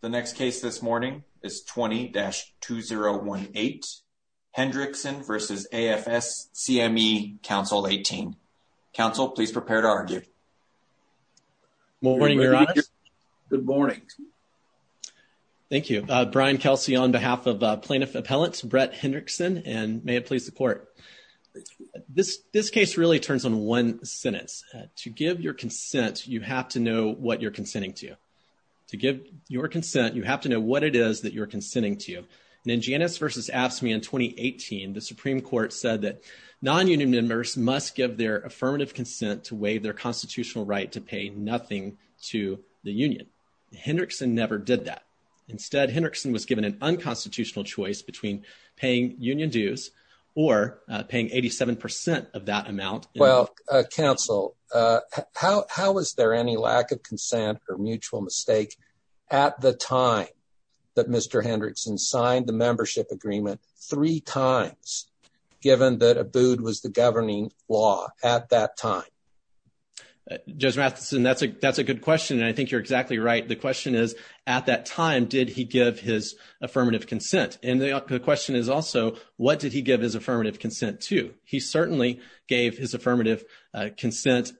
The next case this morning is 20-2018 Hendrickson v. AFSCME Council 18. Counsel, please prepare to argue. Good morning, Your Honor. Good morning. Thank you. Brian Kelsey on behalf of plaintiff appellant Brett Hendrickson, and may it please the court. This case really turns on one sentence. To give your consent, you have to know what you're consenting to. To give your consent, you have to know what it is that you're consenting to. And in Janus versus AFSCME in 2018, the Supreme Court said that non-union members must give their affirmative consent to waive their constitutional right to pay nothing to the union. Hendrickson never did that. Instead, Hendrickson was given an unconstitutional choice between paying union dues or paying 87% of that amount. Well, Counsel, how is there any lack of consent or mutual mistake at the time that Mr. Hendrickson signed the membership agreement three times, given that Abood was the governing law at that time? Judge Matheson, that's a good question, and I think you're exactly right. The question is, at that time, did he give his affirmative consent? And the question is also, what did he give his affirmative consent to? He certainly gave his affirmative consent,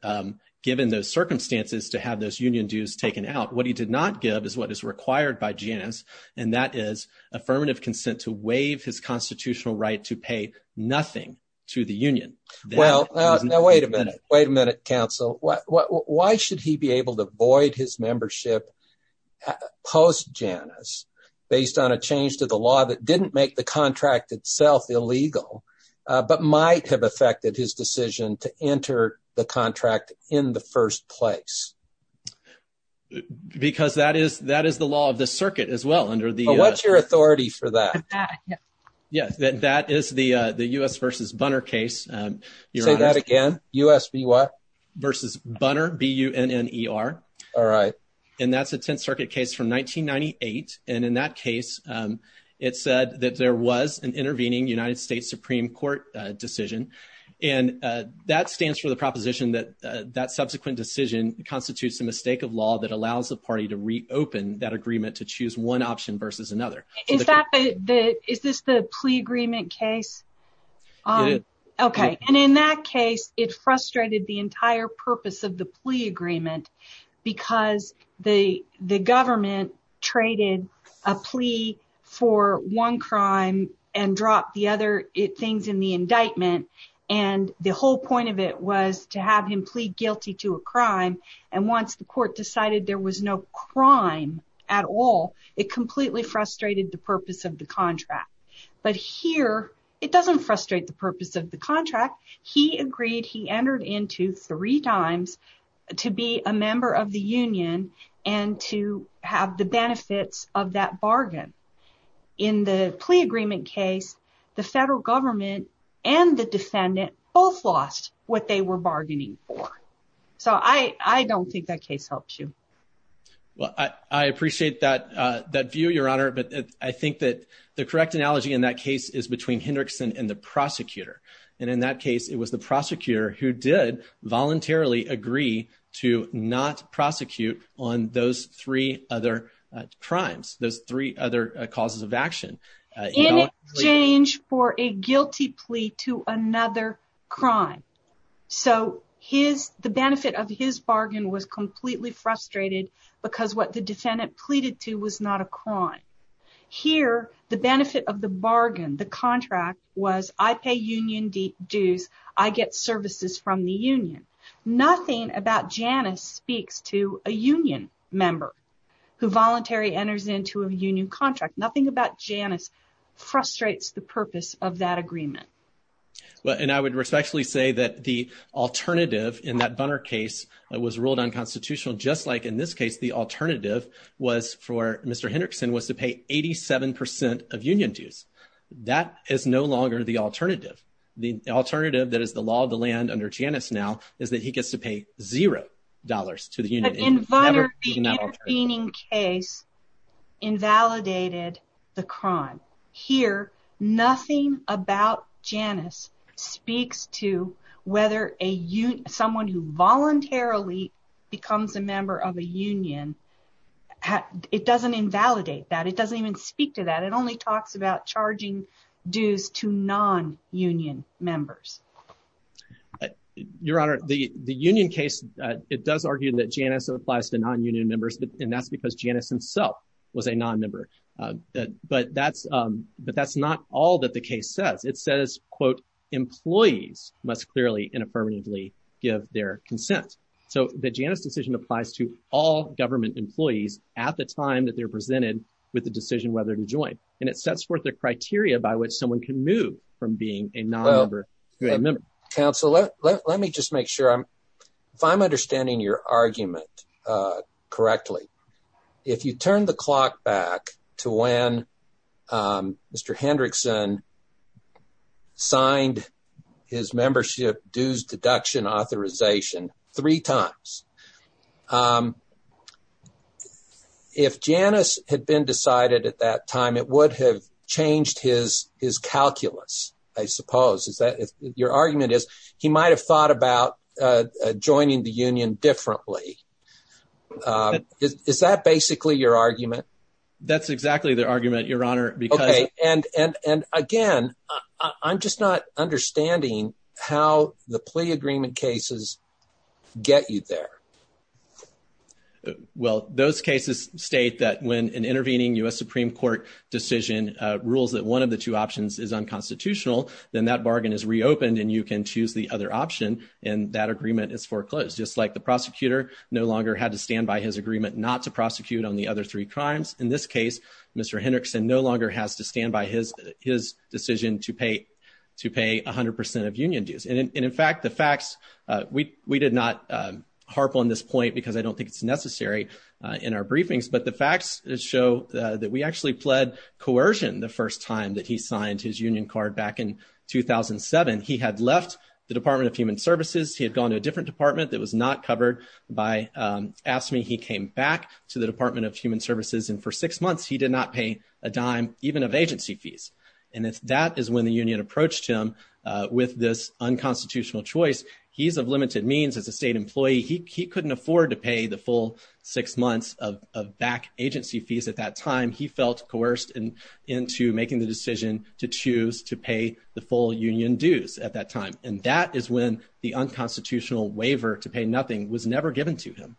given those circumstances, to have those union dues taken out. What he did not give is what is required by Janus, and that is affirmative consent to waive his constitutional right to pay nothing to the union. Well, now wait a minute. Wait a minute, Counsel. Why should he be able to void his membership post-Janus, based on a change to the law that didn't make the contract itself illegal, but might have affected his decision to enter the contract in the first place? Because that is the law of the circuit, as well. What's your authority for that? Yeah, that is the U.S. v. Bunner case. Say that again? U.S. v. what? Versus Bunner, B-U-N-N-E-R. All right. And that's a Tenth Circuit case from 1998, and in that case, it said that there was an intervening United States Supreme Court decision, and that stands for the proposition that that subsequent decision constitutes a mistake of law that allows the party to reopen that agreement to choose one option versus another. Is this the plea agreement case? It is. Okay. And in that case, it frustrated the entire purpose of the plea for one crime and dropped the other things in the indictment, and the whole point of it was to have him plead guilty to a crime, and once the court decided there was no crime at all, it completely frustrated the purpose of the contract. But here, it doesn't frustrate the purpose of the contract. He agreed, he entered into three times to be a member of the union and to have the benefits of that bargain. In the plea agreement case, the federal government and the defendant both lost what they were bargaining for. So, I don't think that case helps you. Well, I appreciate that view, Your Honor, but I think that the correct analogy in that case is between Hendrickson and the prosecutor, and in that case, it was the on those three other crimes, those three other causes of action. In exchange for a guilty plea to another crime. So, the benefit of his bargain was completely frustrated because what the defendant pleaded to was not a crime. Here, the benefit of the bargain, the contract, was I pay union dues, I get services from the union. Nothing about Janice speaks to a union member who voluntarily enters into a union contract. Nothing about Janice frustrates the purpose of that agreement. Well, and I would respectfully say that the alternative in that Bunner case was ruled unconstitutional, just like in this case, the alternative was for Mr. Hendrickson was to pay 87% of union dues. That is no longer the alternative. The alternative that is the law of the land under Janice now is that he gets to pay zero dollars to the union. But in Bunner, the intervening case invalidated the crime. Here, nothing about Janice speaks to whether someone who voluntarily becomes a member of a union, it doesn't invalidate that. It doesn't even speak to that. It only talks about charging dues to non-union members. Your Honor, the union case, it does argue that Janice applies to non-union members, and that's because Janice himself was a non-member. But that's not all that the case says. It says, quote, employees must clearly and affirmatively give their consent. So, the Janice decision applies to all government employees at the time that they're presented with the decision whether to join. And it sets forth the criteria by which someone can move from being a non-member to a member. Counselor, let me just make sure I'm, if I'm understanding your argument correctly, if you turn the clock back to when Mr. Hendrickson signed his membership dues deduction authorization three times, if Janice had been decided at that time, it would have changed his calculus, I suppose. Your argument is he might have thought about joining the union differently. Is that basically your argument? That's exactly the argument, Your Honor. Okay, and again, I'm just not understanding how the plea agreement cases get you there. Well, those cases state that when an intervening U.S. Supreme Court decision rules that one of the two options is unconstitutional, then that bargain is reopened and you can choose the other option, and that agreement is foreclosed. Just like the prosecutor no longer had to stand by his agreement not to prosecute on the other three crimes, in this case, Mr. Hendrickson no longer has to stand by his decision to pay 100 percent of union dues. And in fact, the facts, we did not harp on this point because I don't think it's necessary in our briefings, but the facts show that we actually pled coercion the first time that he signed his union card back in 2007. He had left the Department of Human Services. He had gone to a different department that was not covered by AFSCME. He came back to the Department of Human Services, and for six months he did not pay a dime even of agency fees. And that is when the union approached him with this unconstitutional choice. He's of limited means as a state employee. He couldn't afford to pay the full six months of back agency fees at that time. He felt coerced into making the decision to choose to pay the full union dues at that time. And that is when the unconstitutional waiver to pay nothing was never given to him.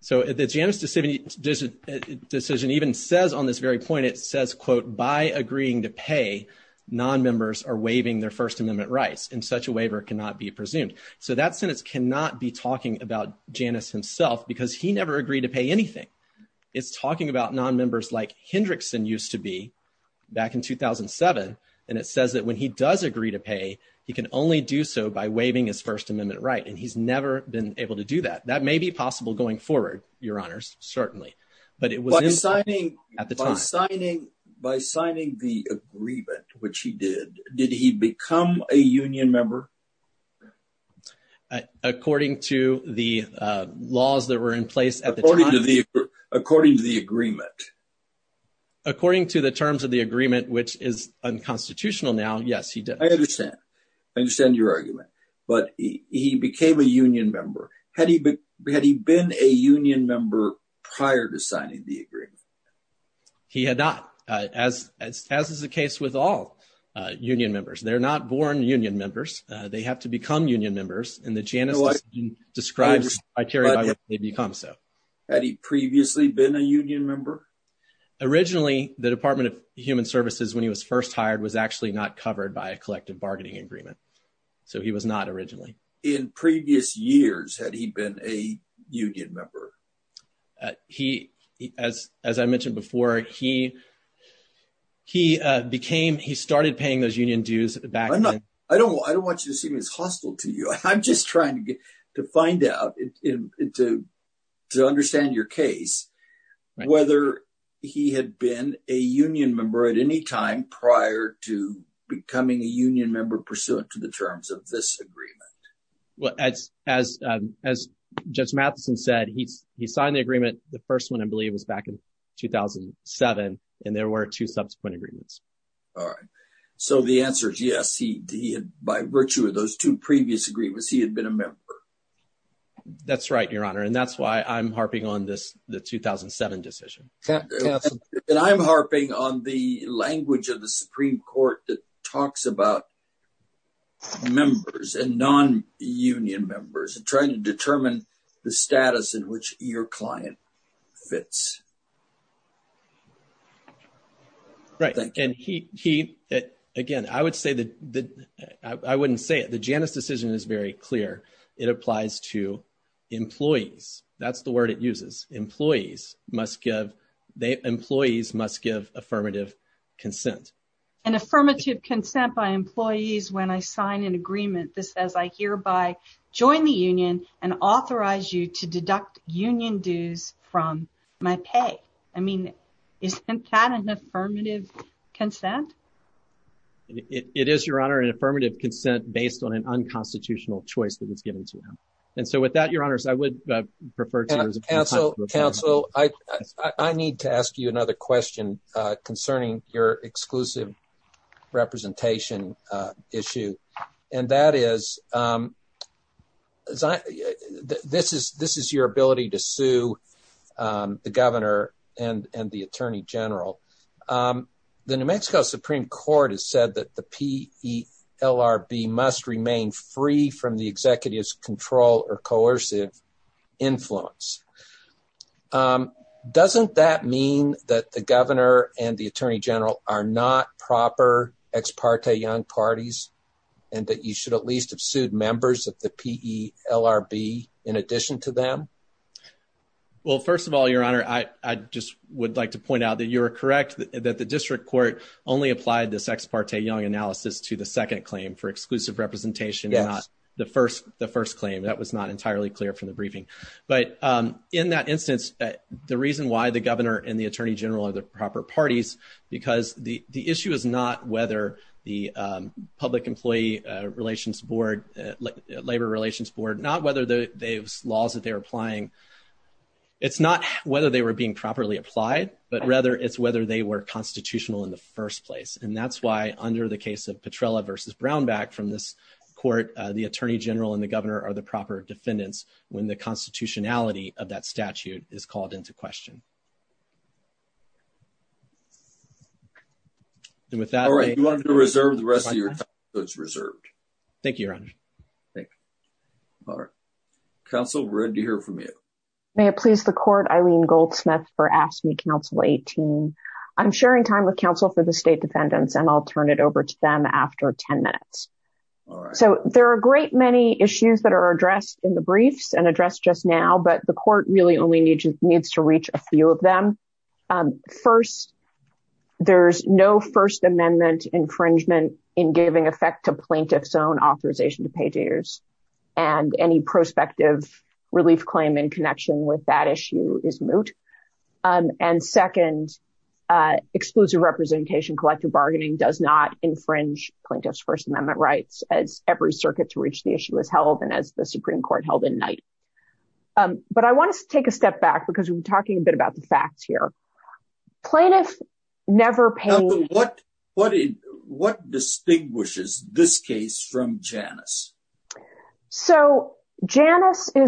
So the Janus decision even says on this very point, it says, quote, by agreeing to pay, nonmembers are waiving their First Amendment rights, and such a waiver cannot be presumed. So that sentence cannot be talking about Janus himself because he never agreed to pay anything. It's talking about nonmembers like Hendrickson used to be back in 2007. And it says that when he does agree to pay, he can only do so by waiving his First Amendment right. And he's never been able to do that. That may be possible going forward, Your Honors, certainly. But it was at the time. By signing the agreement, which he did, did he become a union member? According to the laws that were in place at the time. According to the agreement. According to the terms of the agreement, which is unconstitutional now, yes, he did. I understand. I understand your argument. But he became a union member. Had he been a union member prior to signing the agreement? He had not, as is the case with all union members. They're not born union members. They have to become union members. And the Janus decision describes the criteria by which they become so. Had he previously been a union member? Originally, the Department of Human Services, when he was first hired, was actually not covered by a collective bargaining agreement. So he was not originally. In previous years, had he been a union member? As I mentioned before, he started paying those union dues back then. I don't want you to seem as hostile to you. I'm just trying to find out, to understand your case, whether he had been a union pursuant to the terms of this agreement. Well, as Judge Matheson said, he signed the agreement. The first one, I believe, was back in 2007. And there were two subsequent agreements. All right. So the answer is yes. By virtue of those two previous agreements, he had been a member. That's right, Your Honor. And that's why I'm harping on the 2007 decision. And I'm harping on the language of the Supreme Court that talks about members and non-union members and trying to determine the status in which your client fits. Right. And again, I wouldn't say it. The Janus decision is very clear. It applies to employees. Employees must give affirmative consent. An affirmative consent by employees when I sign an agreement that says I hereby join the union and authorize you to deduct union dues from my pay. I mean, isn't that an affirmative consent? It is, Your Honor, an affirmative consent based on an unconstitutional choice that was given to me. And so with that, Your Honors, I would refer to you as a counsel. Counsel, I need to ask you another question concerning your exclusive representation issue. And that is, this is your ability to sue the governor and the attorney general. The New Mexico Supreme Court has said that the PELRB must remain free from the executive's coercive influence. Doesn't that mean that the governor and the attorney general are not proper ex parte young parties and that you should at least have sued members of the PELRB in addition to them? Well, first of all, Your Honor, I just would like to point out that you're correct, that the district court only applied this ex parte young analysis to the second claim for not entirely clear from the briefing. But in that instance, the reason why the governor and the attorney general are the proper parties, because the issue is not whether the public employee relations board, labor relations board, not whether those laws that they're applying, it's not whether they were being properly applied, but rather it's whether they were constitutional in the first place. And that's why under the case of Petrella versus Brownback from this court, the attorney general and the governor are the proper defendants when the constitutionality of that statute is called into question. All right, you want to reserve the rest of your time, it's reserved. Thank you, Your Honor. Thank you. All right. Counsel, we're ready to hear from you. May it please the court, Eileen Goldsmith for AFSCME Council 18. I'm sharing time with counsel for the state defendants and I'll turn it over to them after 10 minutes. So there are a great many issues that are addressed in the briefs and addressed just now, but the court really only needs to reach a few of them. First, there's no First Amendment infringement in giving effect to plaintiff's own authorization to pay jitters. And any prospective relief claim in connection with that issue is moot. And second, exclusive representation, collective bargaining does not infringe plaintiff's First Amendment rights as every circuit to reach the issue is held and as the Supreme Court held in night. But I want to take a step back because we've been talking a bit about the facts here. Plaintiff never paid... This is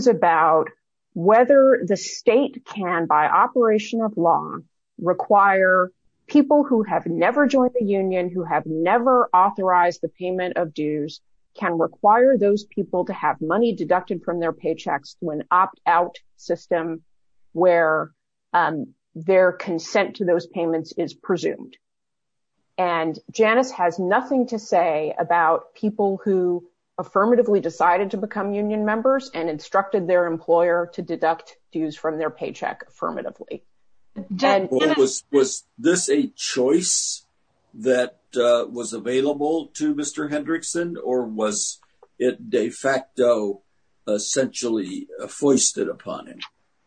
about whether the state can, by operation of law, require people who have never joined the union, who have never authorized the payment of dues, can require those people to have money deducted from their paychecks when opt-out system where their consent to those payments is presumed. And Janice has nothing to say about people who affirmatively decided to become union members and instructed their employer to deduct dues from their paycheck affirmatively. Was this a choice that was available to Mr. Hendrickson, or was it de facto essentially foisted upon him?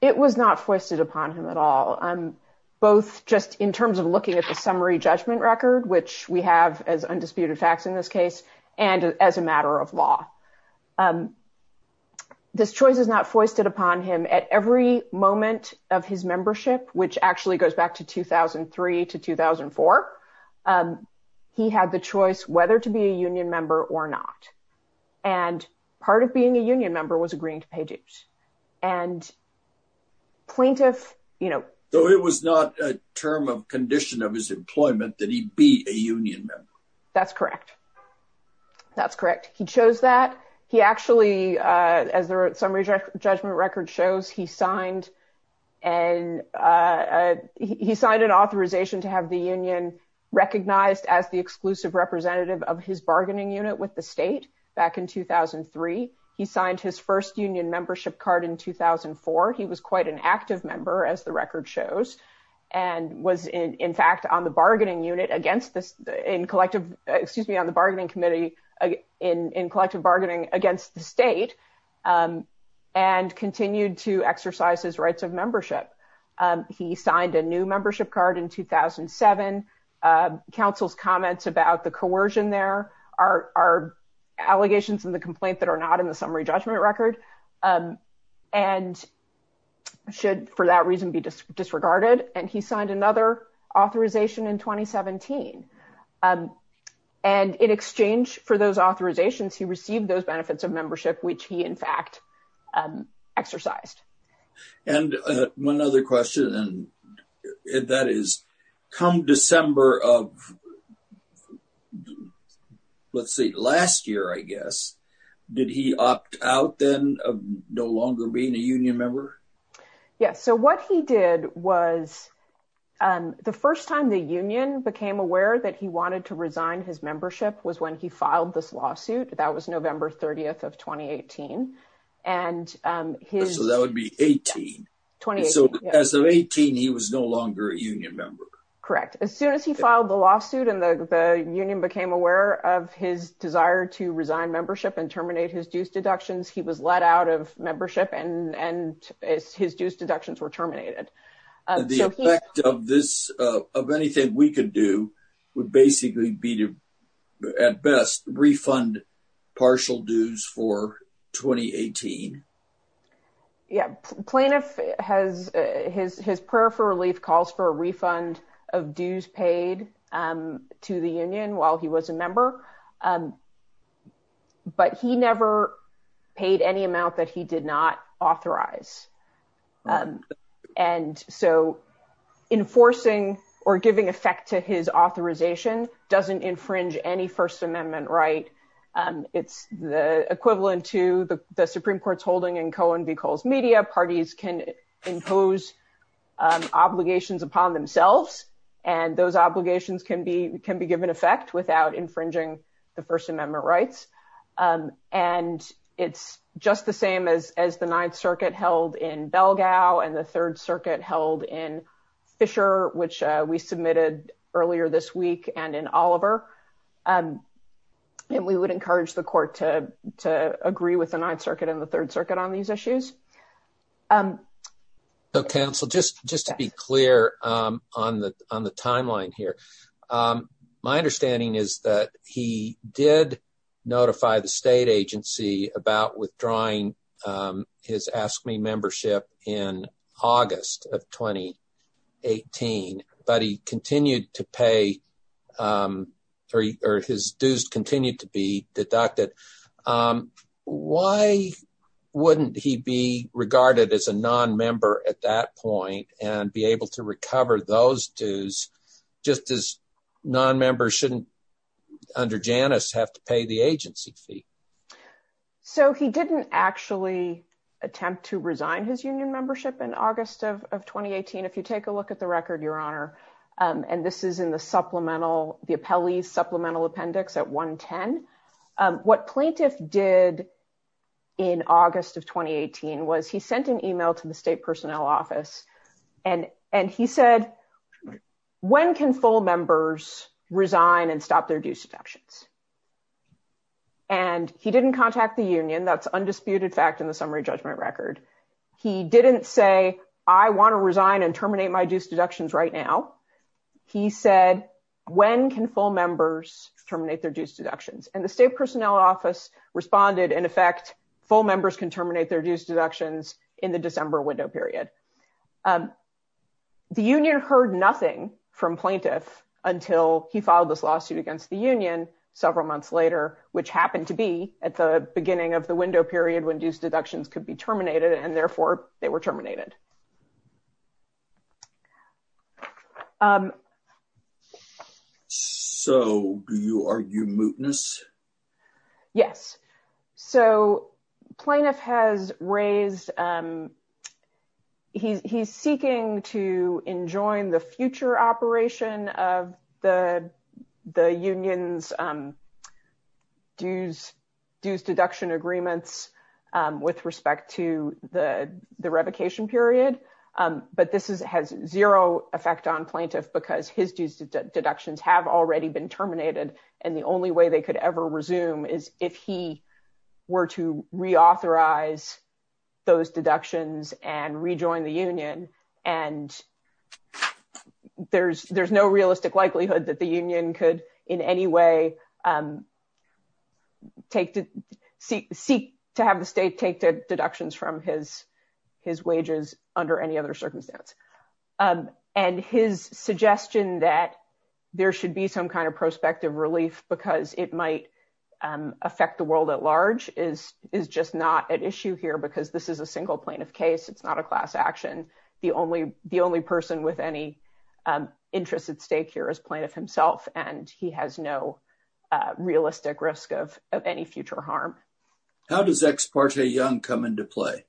It was not foisted upon him at all. Both just in terms of looking at the summary judgment record, which we have as undisputed facts in this case, and as a matter of this choice is not foisted upon him at every moment of his membership, which actually goes back to 2003 to 2004. He had the choice whether to be a union member or not. And part of being a union member was agreeing to pay dues. And plaintiff, you know... Though it was not a term of condition of his employment that he be a union member. That's correct. That's correct. He chose that. He actually, as the summary judgment record shows, he signed an authorization to have the union recognized as the exclusive representative of his bargaining unit with the state back in 2003. He signed his first union membership card in 2004. He was quite an active member, as the record shows, and was in fact on the bargaining unit against this in collective, excuse me, on the bargaining committee in collective bargaining against the state, and continued to exercise his rights of membership. He signed a new membership card in 2007. Council's comments about the coercion there are allegations in the complaint that are not in the summary judgment record, and should for that reason be disregarded. And he signed another authorization in 2017. And in exchange for those authorizations, he received those benefits of membership, which he in fact exercised. And one other question, and that is, come December of let's see, last year, I guess, did he opt out then of no longer being a union member? Yeah, so what he did was, the first time the union became aware that he wanted to resign his membership was when he filed this lawsuit. That was November 30th of 2018. So that would be 18. So as of 18, he was no longer a union member. Correct. As soon as he filed the lawsuit, and the union became aware of his desire to resign his dues deductions were terminated. The effect of this, of anything we could do, would basically be to, at best, refund partial dues for 2018. Yeah, plaintiff has his prayer for relief calls for a refund of dues paid to the union while he was a member. But he never paid any amount that he did not authorize. And so enforcing or giving effect to his authorization doesn't infringe any First Amendment right. It's the equivalent to the Supreme Court's holding in Cohen v. Coles Media, parties can impose obligations upon themselves. And those obligations can be given effect without infringing the First Amendment rights. And it's just the same as the Ninth Circuit held in Belgau, and the Third Circuit held in Fisher, which we submitted earlier this week, and in Oliver. And we would encourage the court to agree with the Ninth Circuit and the Third Circuit on these issues. So, counsel, just to be clear on the timeline here. My understanding is that he did notify the state agency about withdrawing his Ask Me membership in August of 2018, but his dues continued to be deducted. Why wouldn't he be regarded as a non-member at that point and be able to recover those dues, just as non-members shouldn't, under Janus, have to pay the agency fee? So he didn't actually attempt to resign his union membership in August of 2018. If you take a look at the record, Your Honor, and this is in the supplemental, the appellee's supplemental appendix at 110. What plaintiff did in August of 2018 was he sent an email to the state personnel office, and he said, when can full members resign and stop their dues deductions? And he didn't contact the union. That's undisputed fact in the summary judgment record. He didn't say, I want to resign and terminate my dues deductions right now. He said, when can full members terminate their dues deductions? And the state personnel office responded, in effect, full members can terminate their dues deductions in the December window period. The union heard nothing from plaintiff until he filed this lawsuit against the union several months later, which happened to be at the beginning of the window period when dues deductions could be terminated, and therefore they were terminated. So do you argue mootness? Yes. So plaintiff has raised, he's seeking to enjoin the future operation of the union's dues deduction agreements with respect to the revocation period. But this has zero effect on plaintiff because his dues deductions have already been terminated, and the only way they could ever resume is if he were to reauthorize those deductions and rejoin the union. And there's no realistic likelihood that the union could in any way seek to have the state take the deductions from his wages under any other circumstance. And his suggestion that there should be some kind of prospective relief because it might affect the world at large is just not at issue here because this is a single plaintiff case. It's not a class action. The only person with any interest at stake here is plaintiff himself, and he has no realistic risk of any future harm. How does Ex parte Young come into play?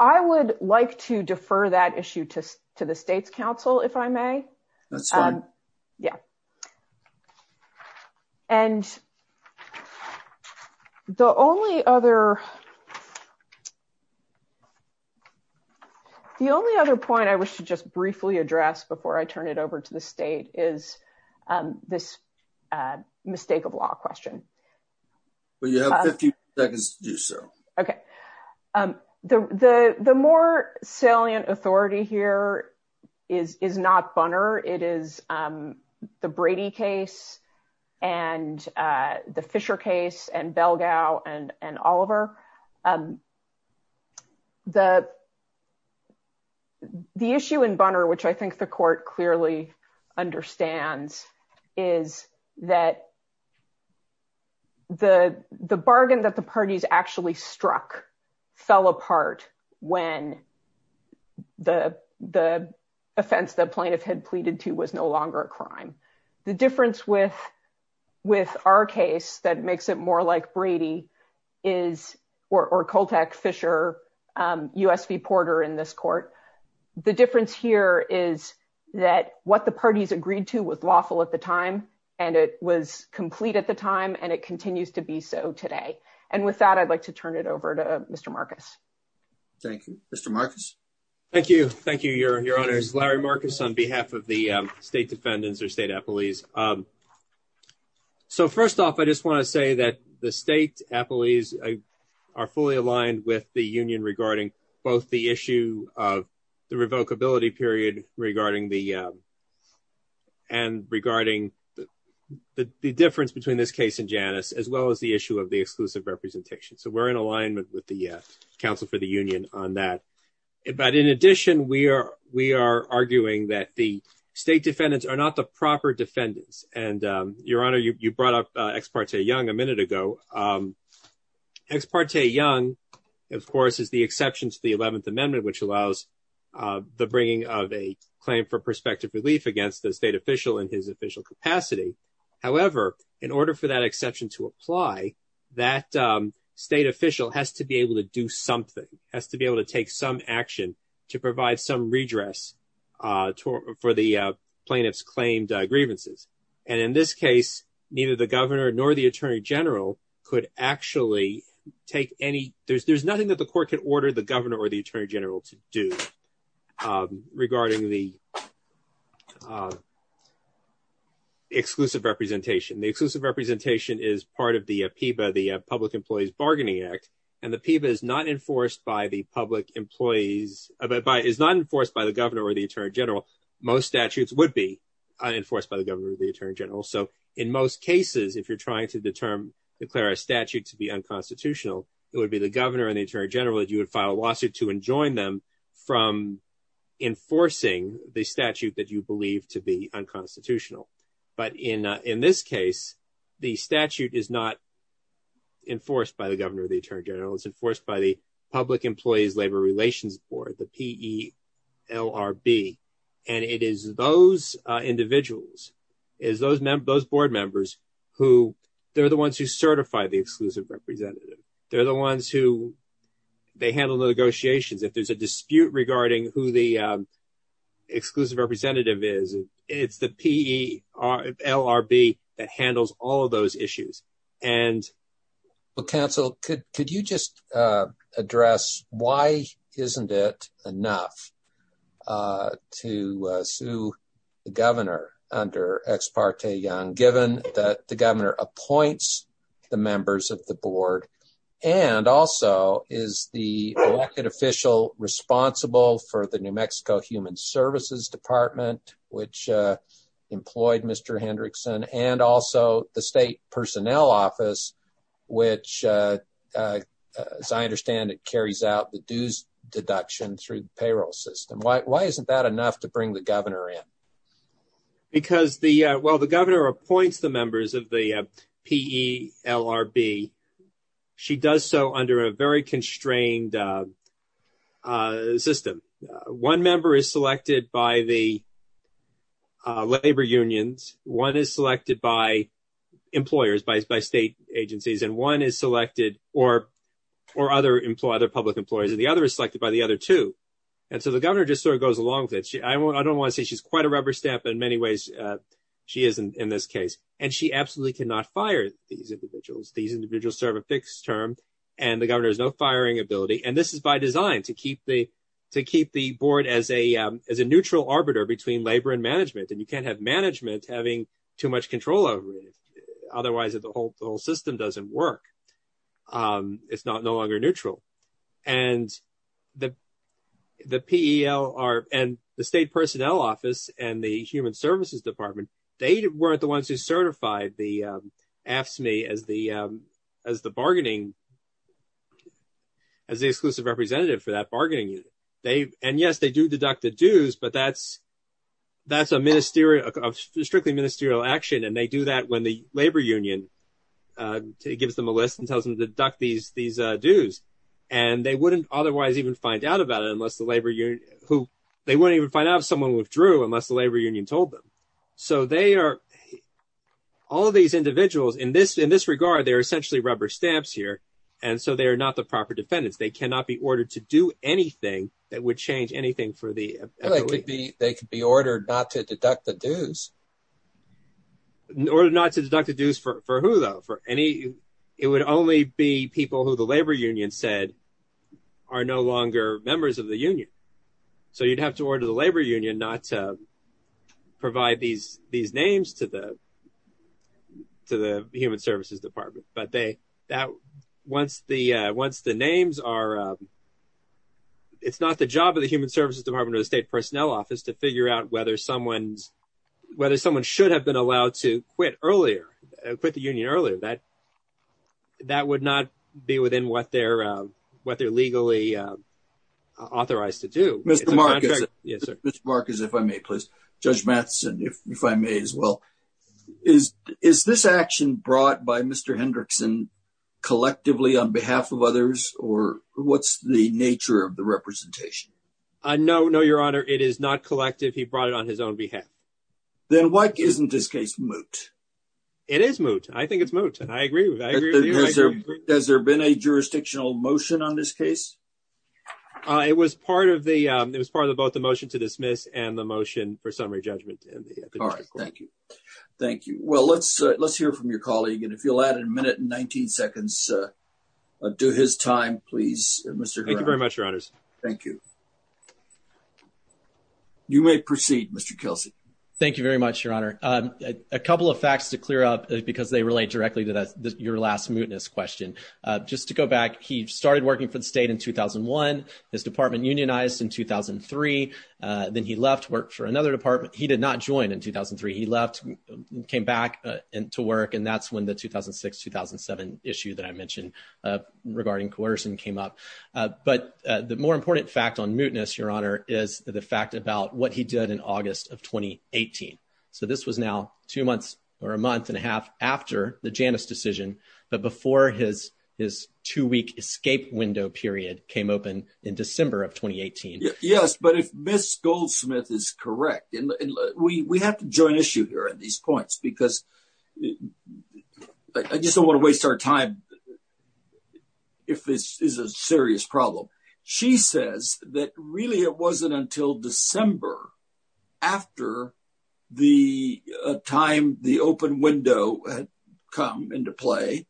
I would like to defer that issue to the state's council, if I may. That's fine. Yeah. And the only other point I wish to just briefly address before I turn it over to the state is this mistake of law question. But you have 50 seconds to do so. Okay. The more salient authority here is not Bunner. It is the Brady case and the Fisher case and Belgau and Oliver. The issue in Bunner, which I think the court clearly understands, is that the bargain that the parties actually struck fell apart when the offense the plaintiff had pleaded to was no longer a crime. The difference with our case that makes it more like Brady is or Coltec, Fisher, USP Porter in this court. The difference here is that what the parties agreed to was lawful at the time, and it was complete at the time, and it continues to be so today. And with that, I'd like to turn it over to Mr. Marcus. Thank you, Mr. Marcus. Thank you. Thank you, Your Honor. Larry Marcus on behalf of the state defendants or state appellees. So first off, I just want to say that the state appellees are fully aligned with the union regarding both the issue of the revocability period and regarding the difference between this case and Janus as well as the issue of the exclusive representation. So we're in alignment with the counsel for the union on that. But in addition, we are arguing that the state defendants are not the proper defendants. And Your Honor, you brought up Ex parte Young a minute ago. Ex parte Young, of course, is the exception to the 11th Amendment, which allows the bringing of a claim for prospective relief against the state official in his official capacity. However, in order for that exception to apply, that state official has to be able to do grievances. And in this case, neither the governor nor the attorney general could actually take any there's there's nothing that the court can order the governor or the attorney general to do regarding the exclusive representation. The exclusive representation is part of the PIPA, the Public Employees Bargaining Act. And the PIPA is not enforced by the public employees is not enforced by the governor or the attorney general. Most statutes would be enforced by the governor of the attorney general. So in most cases, if you're trying to determine declare a statute to be unconstitutional, it would be the governor and the attorney general that you would file a lawsuit to enjoin them from enforcing the statute that you believe to be unconstitutional. But in in this case, the statute is not enforced by the governor, the attorney general is enforced by the Public Employees Labor Relations Board, the P.E.L.R.B. And it is those individuals, is those those board members who they're the ones who certify the exclusive representative. They're the ones who they handle the negotiations. If there's a dispute regarding who the exclusive representative is, it's the P.E.L.R.B. that handles all of those issues. And well, counsel, could could you just address why isn't it enough to sue the governor under Ex parte Young, given that the governor appoints the members of the board and also is the elected official responsible for the New Mexico Human Services Department, which employed Mr. Hendrickson and also the state personnel office, which, as I understand it, carries out the dues deduction through the payroll system. Why isn't that enough to bring the governor in? Because the well, the governor appoints the members of the P.E.L.R.B. She does so under a constrained system. One member is selected by the labor unions. One is selected by employers, by state agencies, and one is selected or or other public employees. And the other is selected by the other two. And so the governor just sort of goes along with it. I don't want to say she's quite a rubber stamp in many ways. She isn't in this case. And she absolutely cannot fire these individuals. These individuals serve a fixed term and the governor is no firing ability. And this is by design to keep the to keep the board as a as a neutral arbiter between labor and management. And you can't have management having too much control over it. Otherwise, the whole system doesn't work. It's not no longer neutral. And the P.E.L.R.B. and the state as the as the bargaining. As the exclusive representative for that bargaining, they and yes, they do deduct the dues, but that's that's a ministerial of strictly ministerial action. And they do that when the labor union gives them a list and tells them to deduct these these dues. And they wouldn't otherwise even find out about it unless the labor union who they wouldn't even find out someone withdrew unless the labor union told them. So they are all of these individuals in this regard. They're essentially rubber stamps here. And so they are not the proper defendants. They cannot be ordered to do anything that would change anything for the. They could be ordered not to deduct the dues. Or not to deduct the dues for who, though, for any. It would only be people who the labor union said are no longer members of the union. So you'd have to order the labor union not to these names to the. To the Human Services Department, but they that once the once the names are. It's not the job of the Human Services Department or the state personnel office to figure out whether someone's whether someone should have been allowed to quit earlier, quit the union earlier that. That would not be within what they're what they're legally authorized to do. Mr. Marcus, if I may, please, Judge Matheson, if I may as well, is is this action brought by Mr. Hendrickson collectively on behalf of others or what's the nature of the representation? No, no, your honor. It is not collective. He brought it on his own behalf. Then why isn't this case moot? It is moot. I think it's moot. And I agree with that. Has there been a jurisdictional motion on this case? It was part of the it was part of both the motion to dismiss and the motion for summary judgment. All right. Thank you. Thank you. Well, let's let's hear from your colleague. And if you'll add a minute and 19 seconds to his time, please, Mr. Thank you very much, your honors. Thank you. You may proceed, Mr. Kelsey. Thank you very much, your honor. A couple of facts to clear up because they relate directly to your last mootness question. Just to go back. He started working for the state in 2001. His department unionized in 2003. Then he left work for another department. He did not join in 2003. He left, came back to work. And that's when the 2006, 2007 issue that I mentioned regarding coercion came up. But the more important fact on mootness, your honor, is the fact about what he did in August of twenty eighteen. So this was now two months or a month and a half after the Janice decision, but before his his two week escape window period came open in December of twenty eighteen. Yes. But if Miss Goldsmith is correct and we have to join issue here at these points because I just don't want to waste our time if this is a serious problem. She says that really it wasn't until December after the time the open window had come into play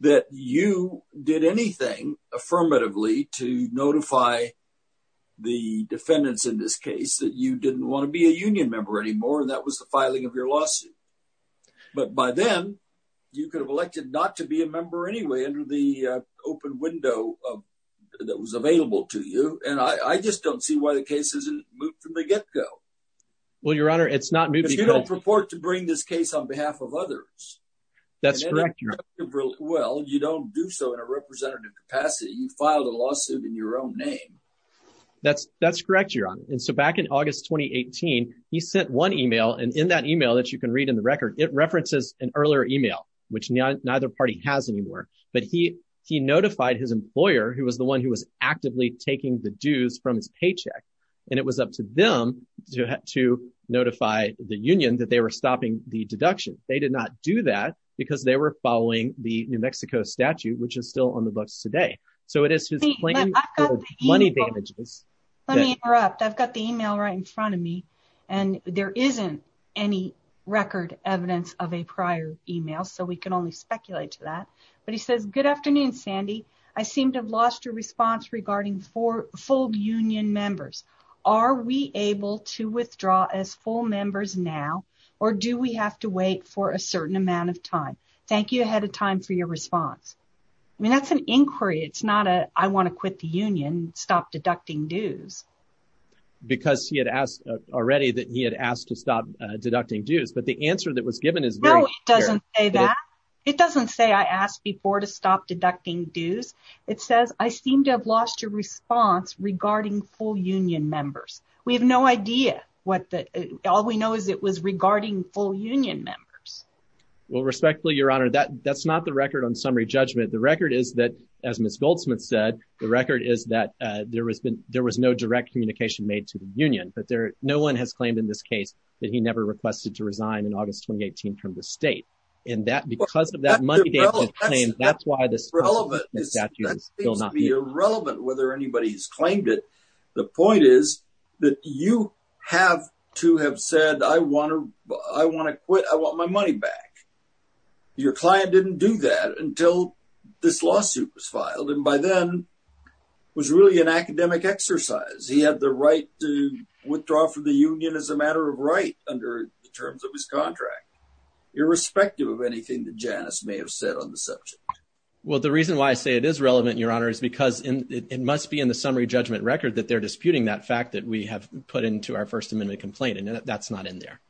that you did anything affirmatively to notify the defendants in this case that you didn't want to be a union member anymore. And that was the filing of your lawsuit. But by then you could have elected not to be a member anyway under the open window that was available to you. And I just don't see why the case isn't moved from the get go. Well, your honor, it's not moving. You don't purport to bring this case on behalf of others. That's correct. Well, you don't do so in a representative capacity. You filed a lawsuit in your own name. That's that's correct, your honor. And so back in August twenty eighteen, he sent one email and in that email that you can read in the record, it references an earlier email, which neither party has anymore. But he he notified his employer, who was the one who was actively taking the dues from his paycheck. And it was up to them to to notify the union that they were stopping the deduction. They did not do that because they were following the New Mexico statute, which is still on the books today. So it is money damages. Let me interrupt. I've got the email right in front of me and there isn't any record evidence of a prior email. So we can only speculate to that. But he says, good afternoon, Sandy. I seem to have lost your response regarding four full union members. Are we able to withdraw as full members now or do we have to wait for a certain amount of time? Thank you ahead of time for your response. I mean, that's an inquiry. It's not a I want to quit the union, stop deducting dues because he had asked already that he had asked to stop deducting dues. But the answer that was given is no, it doesn't say that. It doesn't say I asked before to stop deducting dues. It says I seem to have lost your response regarding full union members. We have no idea what all we know is it was regarding full union members. Well, respectfully, Your Honor, that that's not the record on summary judgment. The record is that, as Miss Goldsmith said, the record is that there has been there was no direct communication made to the union, but there no one has claimed in this case that he never requested to resign in August 2018 from the state. And that because of that money, that's why this is relevant. Whether anybody's claimed it. The point is that you have to have said, I want to I want to quit. I want my money back. Your client didn't do that until this lawsuit was filed and by then was really an academic exercise. He had the right to withdraw from the union as a matter of right under the terms of his contract, irrespective of anything that Janice may have said on the subject. Well, the reason why I say it is relevant, Your Honor, is because it must be in the summary judgment record that they're disputing that fact that we have put into our First Amendment complaint. And that's not in there.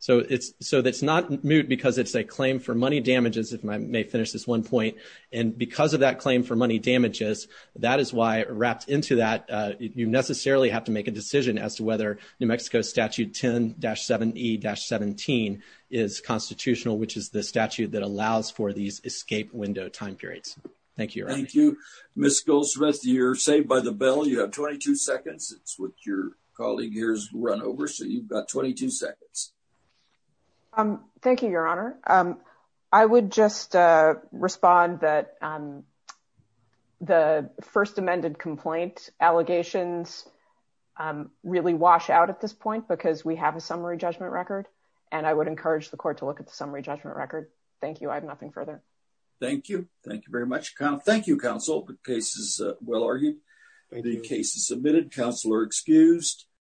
So it's so it's not moot because it's a claim for money damages, if I may finish this one point, and because of that claim for money damages, that is why wrapped into that, you necessarily have to make a decision as to whether New Mexico Statute 10-7E-17 is constitutional, which is the statute that allows for these escape window time periods. Thank you. Thank you, Ms. Goldsmith. You're saved by the bell. You have 22 seconds. It's what your colleague here's run over. So you've got 22 seconds. Um, thank you, Your Honor. I would just respond that the First Amendment complaint allegations really wash out at this point because we have a summary judgment record. And I would encourage the court to look at the summary judgment record. Thank you. I have nothing further. Thank you. Thank you very much. Thank you, counsel. The case is well argued. The case is submitted. Counselor excused.